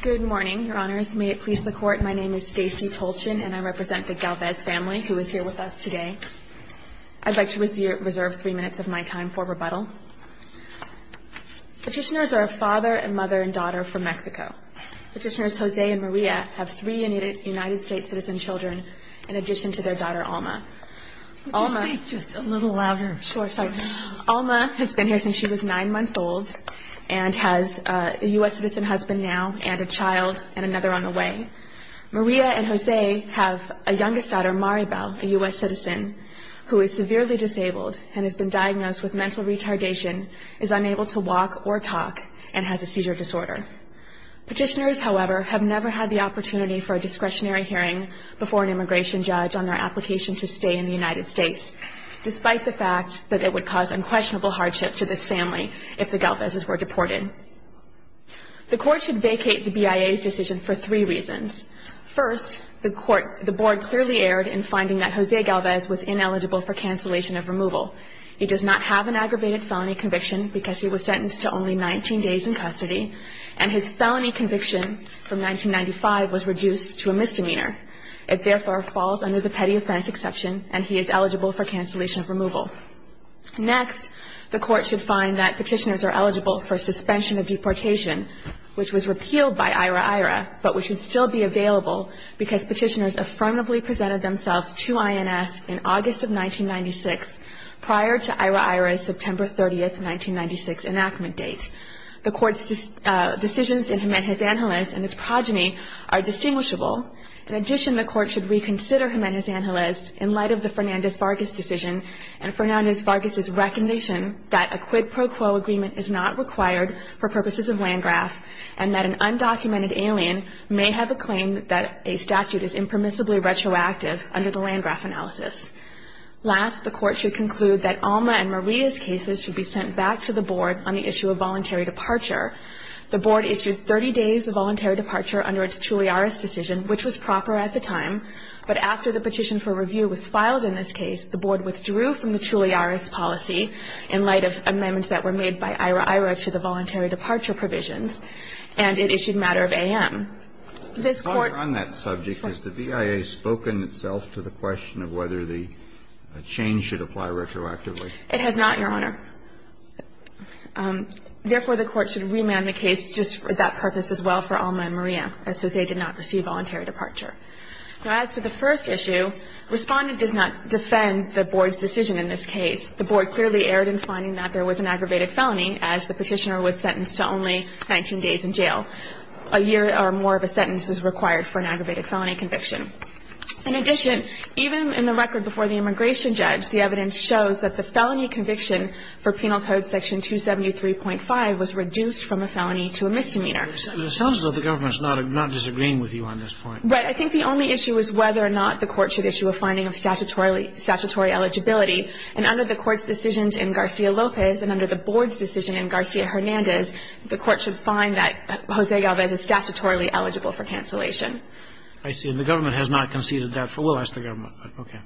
Good morning, Your Honors. May it please the Court, my name is Stacey Tolchin and I represent the Galvez family who is here with us today. I'd like to reserve three minutes of my time for rebuttal. Petitioners are a father, a mother, and daughter from Mexico. Petitioners Jose and Maria have three United States citizen children in addition to their daughter Alma. Could you speak just a little louder? Sure, sorry. Alma has been here since she was nine months old and has a U.S. citizen husband now and a child and another on the way. Maria and Jose have a youngest daughter Maribel, a U.S. citizen, who is severely disabled and has been diagnosed with mental retardation, is unable to walk or talk, and has a seizure disorder. Petitioners, however, have never had the opportunity for a discretionary hearing before an immigration judge on their application to stay in the United States, despite the fact that it would cause unquestionable hardship to this family if the Galvezes were deported. The Court should vacate the BIA's decision for three reasons. First, the Board clearly erred in finding that Jose Galvez was ineligible for cancellation of removal. He does not have an aggravated felony conviction because he was sentenced to only 19 days in custody, and his felony conviction from 1995 was reduced to a misdemeanor. It therefore falls under the Petty Offense Exception, and he is eligible for cancellation of removal. Next, the Court should find that petitioners are eligible for suspension of deportation, which was repealed by IHRA-IHRA, but which would still be available because petitioners affirmatively presented themselves to INS in August of 1996, prior to IHRA-IHRA's September 30, 1996, enactment date. The Court's decisions in Jiménez-Ángeles and its progeny are distinguishable In addition, the Court should reconsider Jiménez-Ángeles in light of the Fernández-Vargas decision and Fernández-Vargas's recognition that a quid pro quo agreement is not required for purposes of Landgraf, and that an undocumented alien may have a claim that a statute is impermissibly retroactive under the Landgraf analysis. Last, the Court should conclude that Alma and Maria's cases should be sent back to the Board on the issue of voluntary departure. The Board issued 30 days of voluntary departure under its Chulliaras decision, which was proper at the time, but after the petition for review was filed in this case, the Board withdrew from the Chulliaras policy in light of amendments that were made by IHRA-IHRA to the voluntary departure provisions, and it issued matter of a.m. This Court ---- Kennedy, on that subject, has the BIA spoken itself to the question of whether the change should apply retroactively? It has not, Your Honor. Therefore, the Court should remand the case just for that purpose as well for Alma and Maria, as to say they did not receive voluntary departure. Now, as to the first issue, Respondent does not defend the Board's decision in this case. The Board clearly erred in finding that there was an aggravated felony, as the petitioner was sentenced to only 19 days in jail. A year or more of a sentence is required for an aggravated felony conviction. In addition, even in the record before the immigration judge, the evidence shows that the felony conviction for Penal Code Section 273.5 was reduced from a felony to a misdemeanor. It sounds as though the government is not disagreeing with you on this point. Right. I think the only issue is whether or not the Court should issue a finding of statutory eligibility. And under the Court's decisions in Garcia-Lopez and under the Board's decision in Garcia-Hernandez, the Court should find that Jose Galvez is statutorily eligible for cancellation. I see. And the government has not conceded that. We'll ask the government. Okay.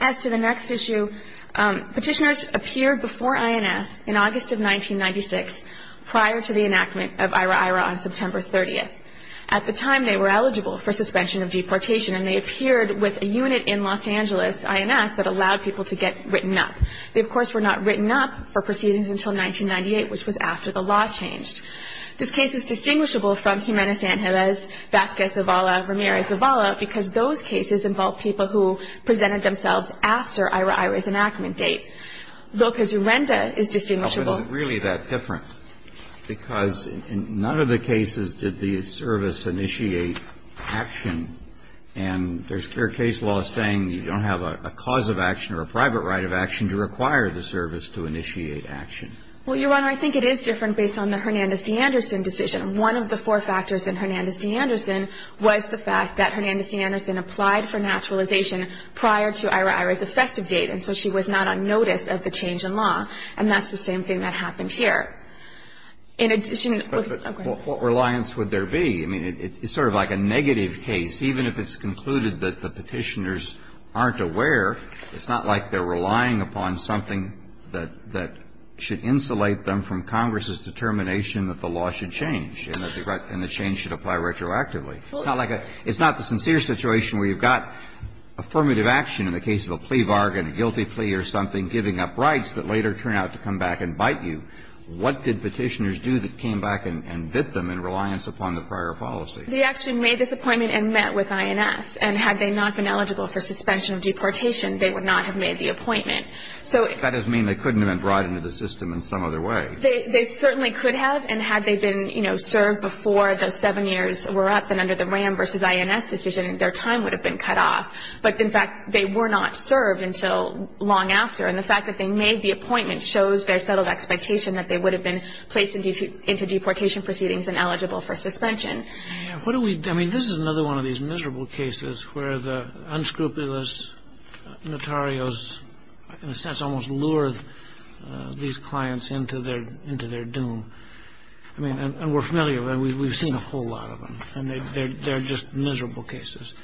As to the next issue, petitioners appeared before INS in August of 1996, prior to the enactment of IHRA-IHRA on September 30th. At the time, they were eligible for suspension of deportation, and they appeared with a unit in Los Angeles, INS, that allowed people to get written up. They, of course, were not written up for proceedings until 1998, which was after the law changed. This case is distinguishable from Jimenez-Angelez, Vasquez-Zavala, Ramirez-Zavala, because those cases involve people who presented themselves after IHRA-IHRA's enactment date. Vilcazurenda is distinguishable. But is it really that different? Because in none of the cases did the service initiate action, and there's clear case law saying you don't have a cause of action or a private right of action to require the service to initiate action. Well, Your Honor, I think it is different based on the Hernandez-D'Anderson decision. One of the four factors in Hernandez-D'Anderson was the fact that Hernandez-D'Anderson applied for naturalization prior to IHRA-IHRA's effective date, and so she was not on notice of the change in law. And that's the same thing that happened here. In addition to the ---- But what reliance would there be? I mean, it's sort of like a negative case. Even if it's concluded that the Petitioners aren't aware, it's not like they're relying upon something that should insulate them from Congress's determination that the law should change. And that the change should apply retroactively. It's not like a ---- It's not the sincere situation where you've got affirmative action in the case of a plea bargain, a guilty plea or something, giving up rights that later turn out to come back and bite you. What did Petitioners do that came back and bit them in reliance upon the prior policy? They actually made this appointment and met with INS. And had they not been eligible for suspension of deportation, they would not have made the appointment. So if ---- That doesn't mean they couldn't have been brought into the system in some other They certainly could have. And had they been, you know, served before the seven years were up and under the RAM versus INS decision, their time would have been cut off. But, in fact, they were not served until long after. And the fact that they made the appointment shows their settled expectation that they would have been placed into deportation proceedings and eligible for suspension. What do we ---- I mean, this is another one of these miserable cases where the unscrupulous notarios, in a sense, almost lure these clients into their doom. I mean, and we're familiar with them. We've seen a whole lot of them. And they're just miserable cases.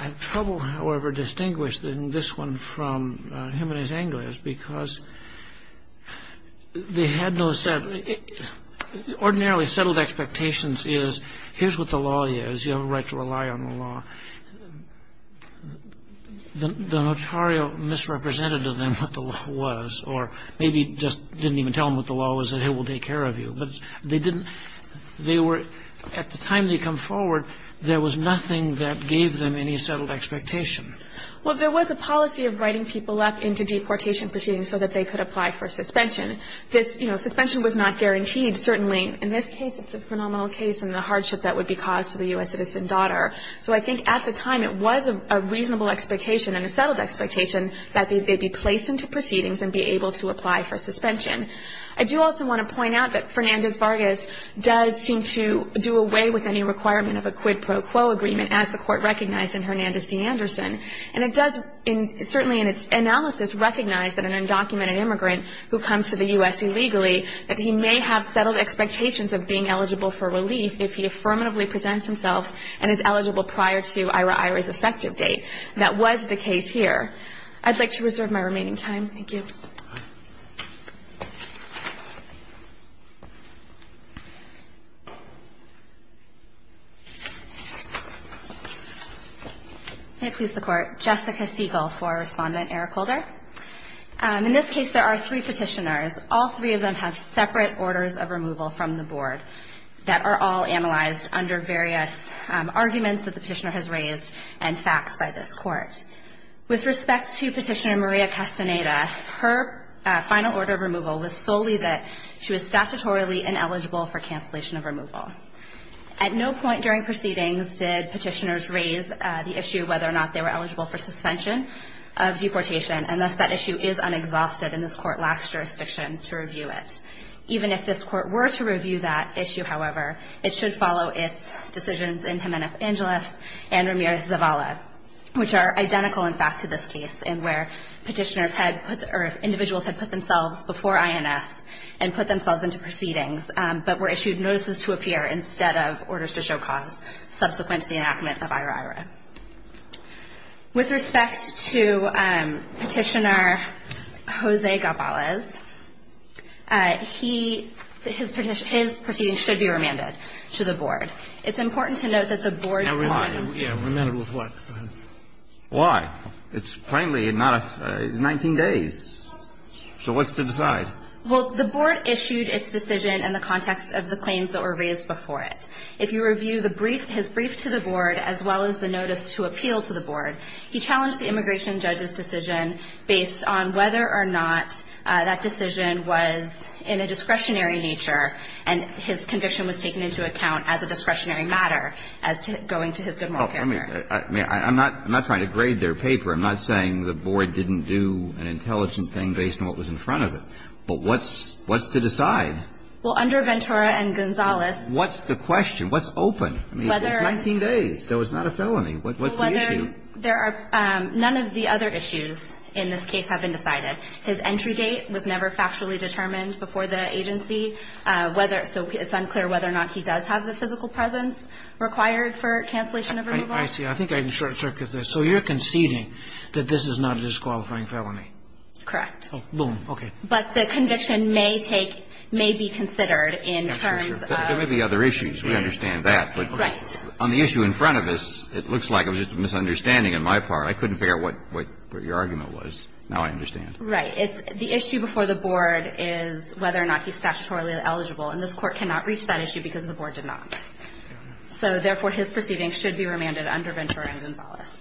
I have trouble, however, distinguishing this one from him and his anglers because they had no settled ---- ordinarily settled expectations is here's what the law is. You have a right to rely on the law. The notario misrepresented to them what the law was or maybe just didn't even tell them what the law was and, hey, we'll take care of you. But they didn't ---- They were ---- At the time they come forward, there was nothing that gave them any settled expectation. Well, there was a policy of writing people up into deportation proceedings so that they could apply for suspension. This, you know, suspension was not guaranteed, certainly. In this case, it's a phenomenal case and the hardship that would be caused to the U.S. citizen daughter. So I think at the time it was a reasonable expectation and a settled expectation that they'd be placed into proceedings and be able to apply for suspension. I do also want to point out that Fernandez-Vargas does seem to do away with any requirement of a quid pro quo agreement, as the Court recognized in Hernandez v. Anderson. And it does, certainly in its analysis, recognize that an undocumented immigrant who comes to the U.S. illegally, that he may have settled expectations of being eligible for relief if he affirmatively presents himself and is eligible prior to IRA-IRA's effective date. That was the case here. I'd like to reserve my remaining time. Thank you. May it please the Court. Jessica Siegel for Respondent Eric Holder. In this case, there are three Petitioners. All three of them have separate orders of removal from the Board that are all analyzed under various arguments that the Petitioner has raised and facts by this Court. With respect to Petitioner Maria Castaneda, her final order of removal was solely that she was statutorily ineligible for cancellation of removal. At no point during proceedings did Petitioners raise the issue whether or not they were eligible for suspension of deportation, and thus that issue is unexhausted, and this Court lacks jurisdiction to review it. Even if this Court were to review that issue, however, it should follow its decisions in Jimenez-Angeles and Ramirez-Zavala, which are identical in fact to this case in where Petitioners had put or individuals had put themselves before INS and put themselves into proceedings, but were issued notices to appear instead of orders to show cause subsequent to the enactment of IRA-IRA. With respect to Petitioner Jose Gavalez, he – his proceedings should be remanded to the Board. It's important to note that the Board's – Why? Remanded with what? Why? It's plainly not a – 19 days. So what's to decide? Well, the Board issued its decision in the context of the claims that were raised before it. If you review the brief – his brief to the Board as well as the notice to appeal to the Board, he challenged the immigration judge's decision based on whether or not that decision was in a discretionary nature and his conviction was taken into account as a discretionary matter as to going to his good moral character. I mean, I'm not – I'm not trying to grade their paper. I'm not saying the Board didn't do an intelligent thing based on what was in front of it. But what's – what's to decide? Well, under Ventura and Gonzalez – What's the question? What's open? I mean, it's 19 days. There was not a felony. What's the issue? Well, whether – there are – none of the other issues in this case have been decided. His entry date was never factually determined before the agency. Whether – so it's unclear whether or not he does have the physical presence required for cancellation of removal. I see. I think I'm short-circuited there. So you're conceding that this is not a disqualifying felony? Correct. Oh, boom. Okay. But the conviction may take – may be considered in terms of – There may be other issues. We understand that. Right. But on the issue in front of us, it looks like it was just a misunderstanding on my part. I couldn't figure out what – what your argument was. Now I understand. Right. It's – the issue before the Board is whether or not he's statutorily eligible. And this Court cannot reach that issue because the Board did not. So therefore, his proceeding should be remanded under Ventura and Gonzalez.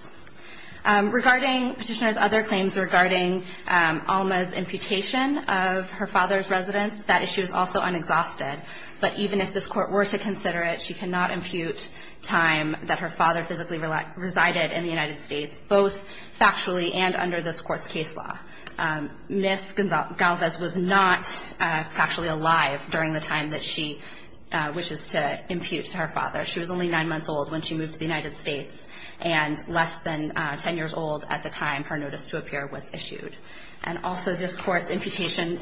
Regarding Petitioner's other claims regarding Alma's imputation of her father's residence, that issue is also unexhausted. But even if this Court were to consider it, she cannot impute time that her father physically resided in the United States, both factually and under this Court's case law. Ms. Galvez was not factually alive during the time that she wishes to impute to her father. She was only nine months old when she moved to the United States and less than 10 years old at the time her notice to appear was issued. And also this Court's imputation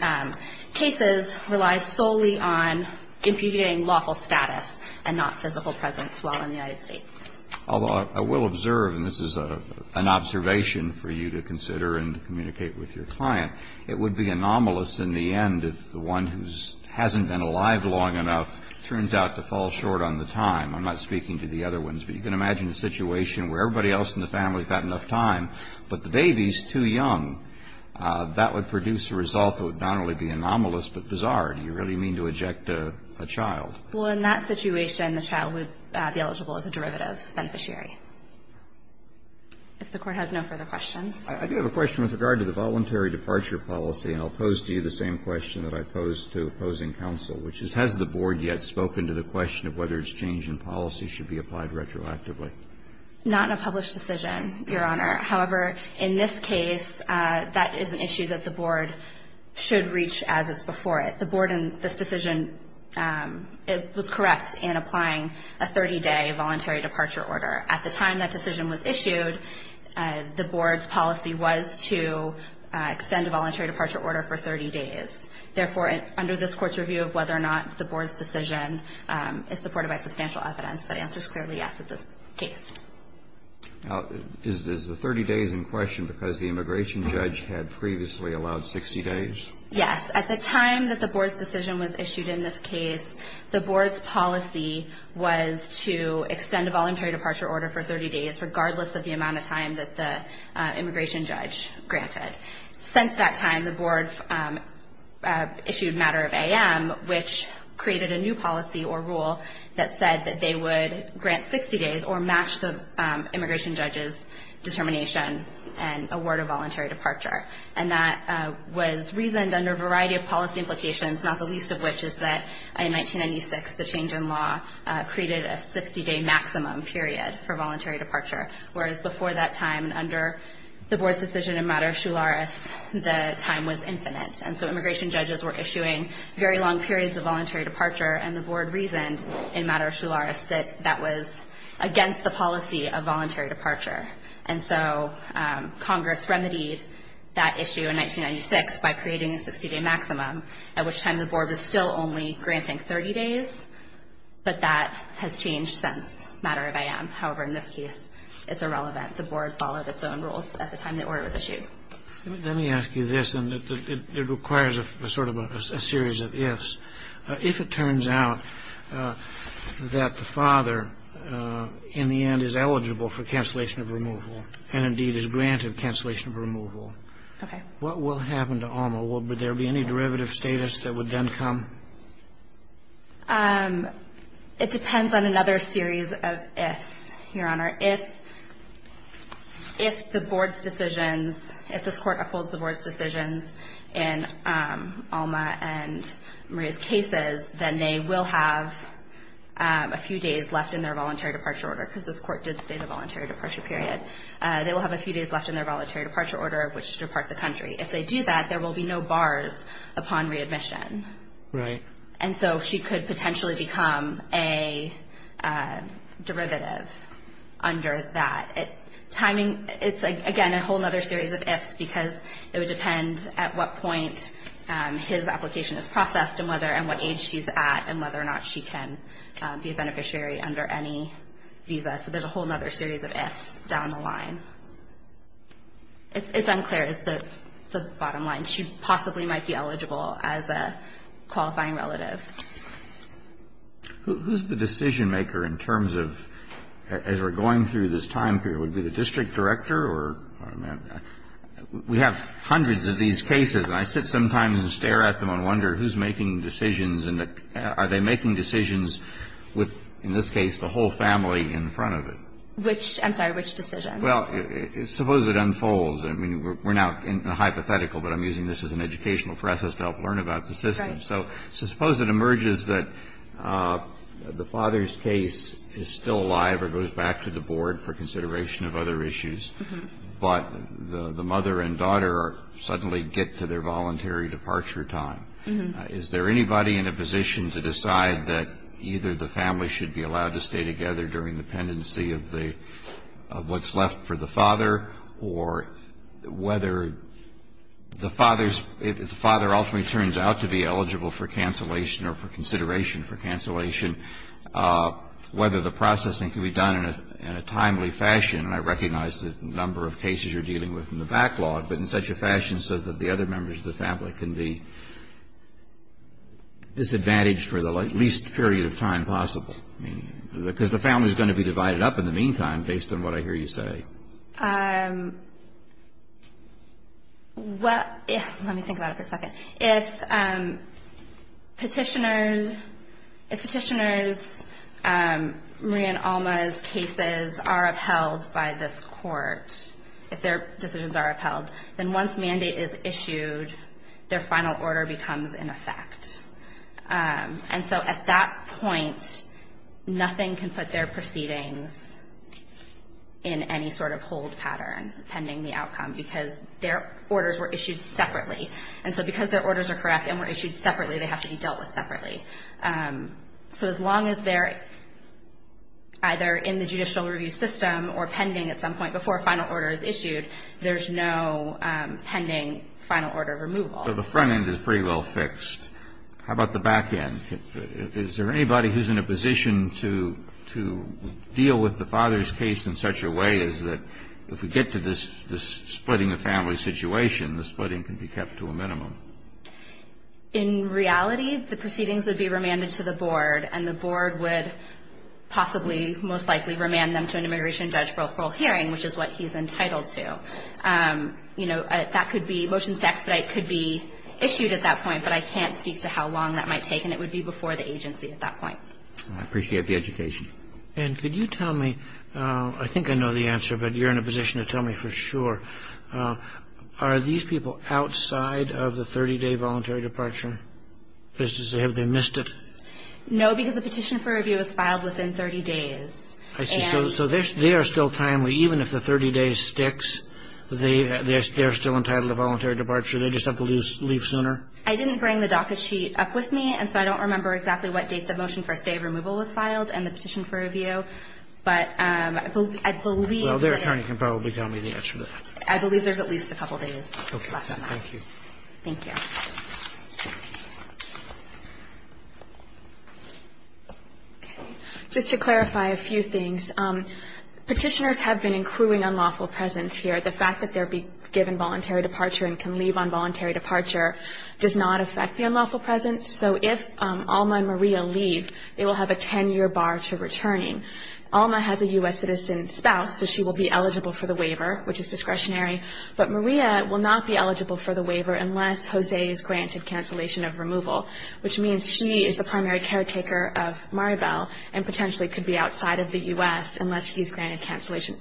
cases rely solely on impugnating lawful status and not physical presence while in the United States. Although I will observe, and this is an observation for you to consider and communicate with your client, it would be anomalous in the end if the one who hasn't been alive long enough turns out to fall short on the time. I'm not speaking to the other ones, but you can imagine a situation where everybody else in the family has had enough time, but the baby is too young. That would produce a result that would not only be anomalous, but bizarre. Do you really mean to eject a child? Well, in that situation, the child would be eligible as a derivative beneficiary. If the Court has no further questions. I do have a question with regard to the voluntary departure policy, and I'll pose to you the same question that I posed to opposing counsel, which is, has the Board yet spoken to the question of whether exchange in policy should be applied retroactively? Not in a published decision, Your Honor. However, in this case, that is an issue that the Board should reach as is before it. The Board in this decision, it was correct in applying a 30-day voluntary departure order. At the time that decision was issued, the Board's policy was to extend a voluntary departure order for 30 days. Therefore, under this Court's review of whether or not the Board's decision is supported by substantial evidence, the answer is clearly yes in this case. Now, is the 30 days in question because the immigration judge had previously allowed 60 days? Yes. At the time that the Board's decision was issued in this case, the Board's policy was to extend a voluntary departure order for 30 days, regardless of the amount of time that the immigration judge granted. Since that time, the Board's issued matter of AM, which created a new policy or rule that said that they would grant 60 days or match the immigration judge's determination and award a voluntary departure. And that was reasoned under a variety of policy implications, not the least of which is that in 1996, the change in law created a 60-day maximum period for voluntary departure, whereas before that time and under the Board's decision in matter of Shularis, the time was infinite. And so immigration judges were issuing very long periods of voluntary departure, and the Board reasoned in matter of Shularis that that was against the policy of voluntary departure. And so Congress remedied that issue in 1996 by creating a 60-day maximum, at which time the Board was still only granting 30 days, but that has changed since matter of AM. However, in this case, it's irrelevant. The Board followed its own rules at the time the order was issued. Let me ask you this, and it requires a sort of a series of ifs. If it turns out that the father, in the end, is eligible for cancellation of removal and, indeed, is granted cancellation of removal, what will happen to Alma? Would there be any derivative status that would then come? It depends on another series of ifs, Your Honor. If the Board's decisions, if this Court upholds the Board's decisions in Alma and Maria's cases, then they will have a few days left in their voluntary departure order, because this Court did state a voluntary departure period. They will have a few days left in their voluntary departure order at which to depart the country. If they do that, there will be no bars upon readmission. Right. And so she could potentially become a derivative under that. It's, again, a whole other series of ifs, because it would depend at what point his application is processed and what age she's at and whether or not she can be a beneficiary under any visa. So there's a whole other series of ifs down the line. It's unclear, is the bottom line. But she possibly might be eligible as a qualifying relative. Who is the decision-maker in terms of, as we're going through this time period, would it be the district director or we have hundreds of these cases? And I sit sometimes and stare at them and wonder who's making decisions and are they making decisions with, in this case, the whole family in front of it? Which, I'm sorry, which decisions? Well, suppose it unfolds. I mean, we're now in the hypothetical, but I'm using this as an educational process to help learn about the system. So suppose it emerges that the father's case is still alive or goes back to the board for consideration of other issues, but the mother and daughter suddenly get to their voluntary departure time. Is there anybody in a position to decide that either the family should be allowed to stay together during the pendency of what's left for the father? Or whether the father ultimately turns out to be eligible for cancellation or for consideration for cancellation, whether the processing can be done in a timely fashion, and I recognize the number of cases you're dealing with in the backlog, but in such a fashion so that the other members of the family can be disadvantaged for the least period of time possible? I mean, because the family's going to be divided up in the meantime, based on what I hear you say. Well, let me think about it for a second. If petitioners, if petitioners, Maria and Alma's cases are upheld by this court, if their decisions are upheld, then once mandate is issued, their final order becomes in effect. And so at that point, nothing can put their proceedings in any sort of hold pattern pending the outcome because their orders were issued separately. And so because their orders are correct and were issued separately, they have to be dealt with separately. So as long as they're either in the judicial review system or pending at some point before a final order is issued, there's no pending final order removal. So the front end is pretty well fixed. How about the back end? Is there anybody who's in a position to deal with the father's case in such a way as that if we get to this splitting the family situation, the splitting can be kept to a minimum? In reality, the proceedings would be remanded to the board, and the board would possibly most likely remand them to an immigration judge for a full hearing, which is what he's entitled to. You know, that could be motions to expedite could be issued at that point, but I can't speak to how long that might take, and it would be before the agency at that point. I appreciate the education. And could you tell me, I think I know the answer, but you're in a position to tell me for sure, are these people outside of the 30-day voluntary departure business? Have they missed it? No, because the petition for review is filed within 30 days. I see. So they are still timely. Even if the 30-day sticks, they're still entitled to voluntary departure. They just have to leave sooner? I didn't bring the docket sheet up with me, and so I don't remember exactly what date the motion for stay removal was filed and the petition for review, but I believe that they're there. Well, their attorney can probably tell me the answer to that. I believe there's at least a couple days left on that. Okay. Thank you. Thank you. Okay. Just to clarify a few things, petitioners have been including unlawful presence here. The fact that they're given voluntary departure and can leave on voluntary departure does not affect the unlawful presence. So if Alma and Maria leave, they will have a 10-year bar to returning. Alma has a U.S. citizen spouse, so she will be eligible for the waiver, which is discretionary, but Maria will not be eligible for the waiver unless Jose is granted cancellation of removal, which means she is the primary caretaker of Maribel and potentially could be outside of the U.S.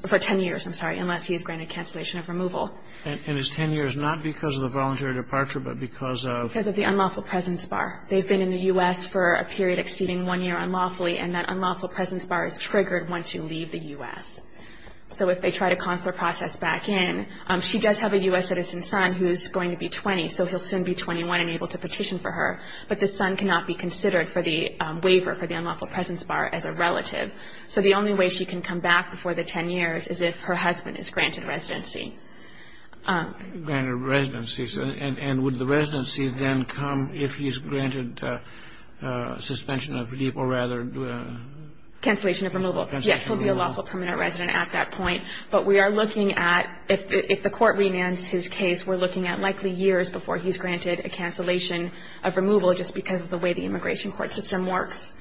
for 10 years unless he is granted cancellation of removal. And it's 10 years not because of the voluntary departure but because of? Because of the unlawful presence bar. They've been in the U.S. for a period exceeding one year unlawfully, and that unlawful presence bar is triggered once you leave the U.S. So if they try to consular process back in, she does have a U.S. citizen son who's going to be 20, so he'll soon be 21 and able to petition for her, but the son cannot be considered for the waiver for the unlawful presence bar as a relative. So the only way she can come back before the 10 years is if her husband is granted residency. Granted residency. And would the residency then come if he's granted suspension of leave or rather? Cancellation of removal. Yes, he'll be a lawful permanent resident at that point. But we are looking at if the court remands his case, we're looking at likely years before he's granted a cancellation of removal just because of the way the immigration court system works.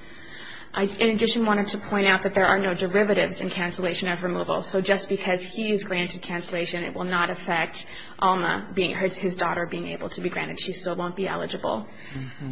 In addition, I wanted to point out that there are no derivatives in cancellation of removal. So just because he is granted cancellation, it will not affect Alma, his daughter, being able to be granted. She still won't be eligible.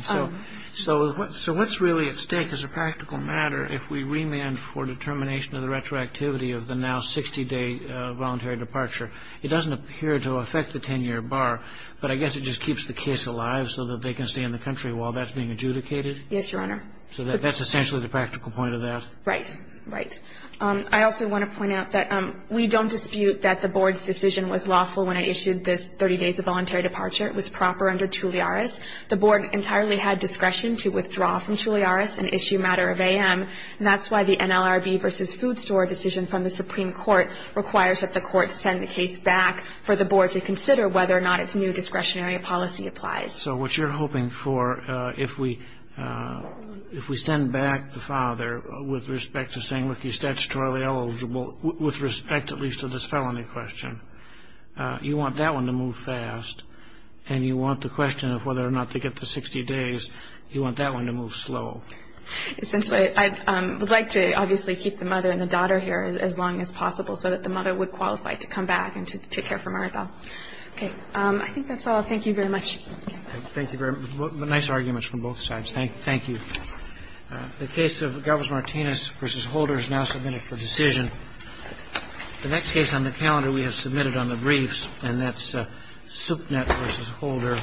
So what's really at stake as a practical matter if we remand for determination of the retroactivity of the now 60-day voluntary departure? It doesn't appear to affect the 10-year bar, but I guess it just keeps the case alive so that they can stay in the country while that's being adjudicated? Yes, Your Honor. So that's essentially the practical point of that? Right. Right. I also want to point out that we don't dispute that the board's decision was lawful when I issued this 30 days of voluntary departure. It was proper under Tulliare's. The board entirely had discretion to withdraw from Tulliare's and issue matter of AM, and that's why the NLRB versus food store decision from the Supreme Court requires that the court send the case back for the board to consider whether or not its new discretionary policy applies. So what you're hoping for, if we send back the father with respect to saying, look, he's statutorily eligible, with respect at least to this felony question, you want that one to move fast, and you want the question of whether or not to get the 60 days, you want that one to move slow. Essentially, I would like to obviously keep the mother and the daughter here as long as possible so that the mother would qualify to come back and to take care of Maribel. Okay. I think that's all. Thank you very much. Thank you very much. Nice arguments from both sides. Thank you. The case of Galvez-Martinez versus Holder is now submitted for decision. The next case on the calendar we have submitted on the briefs, and that's Supnet versus Holder.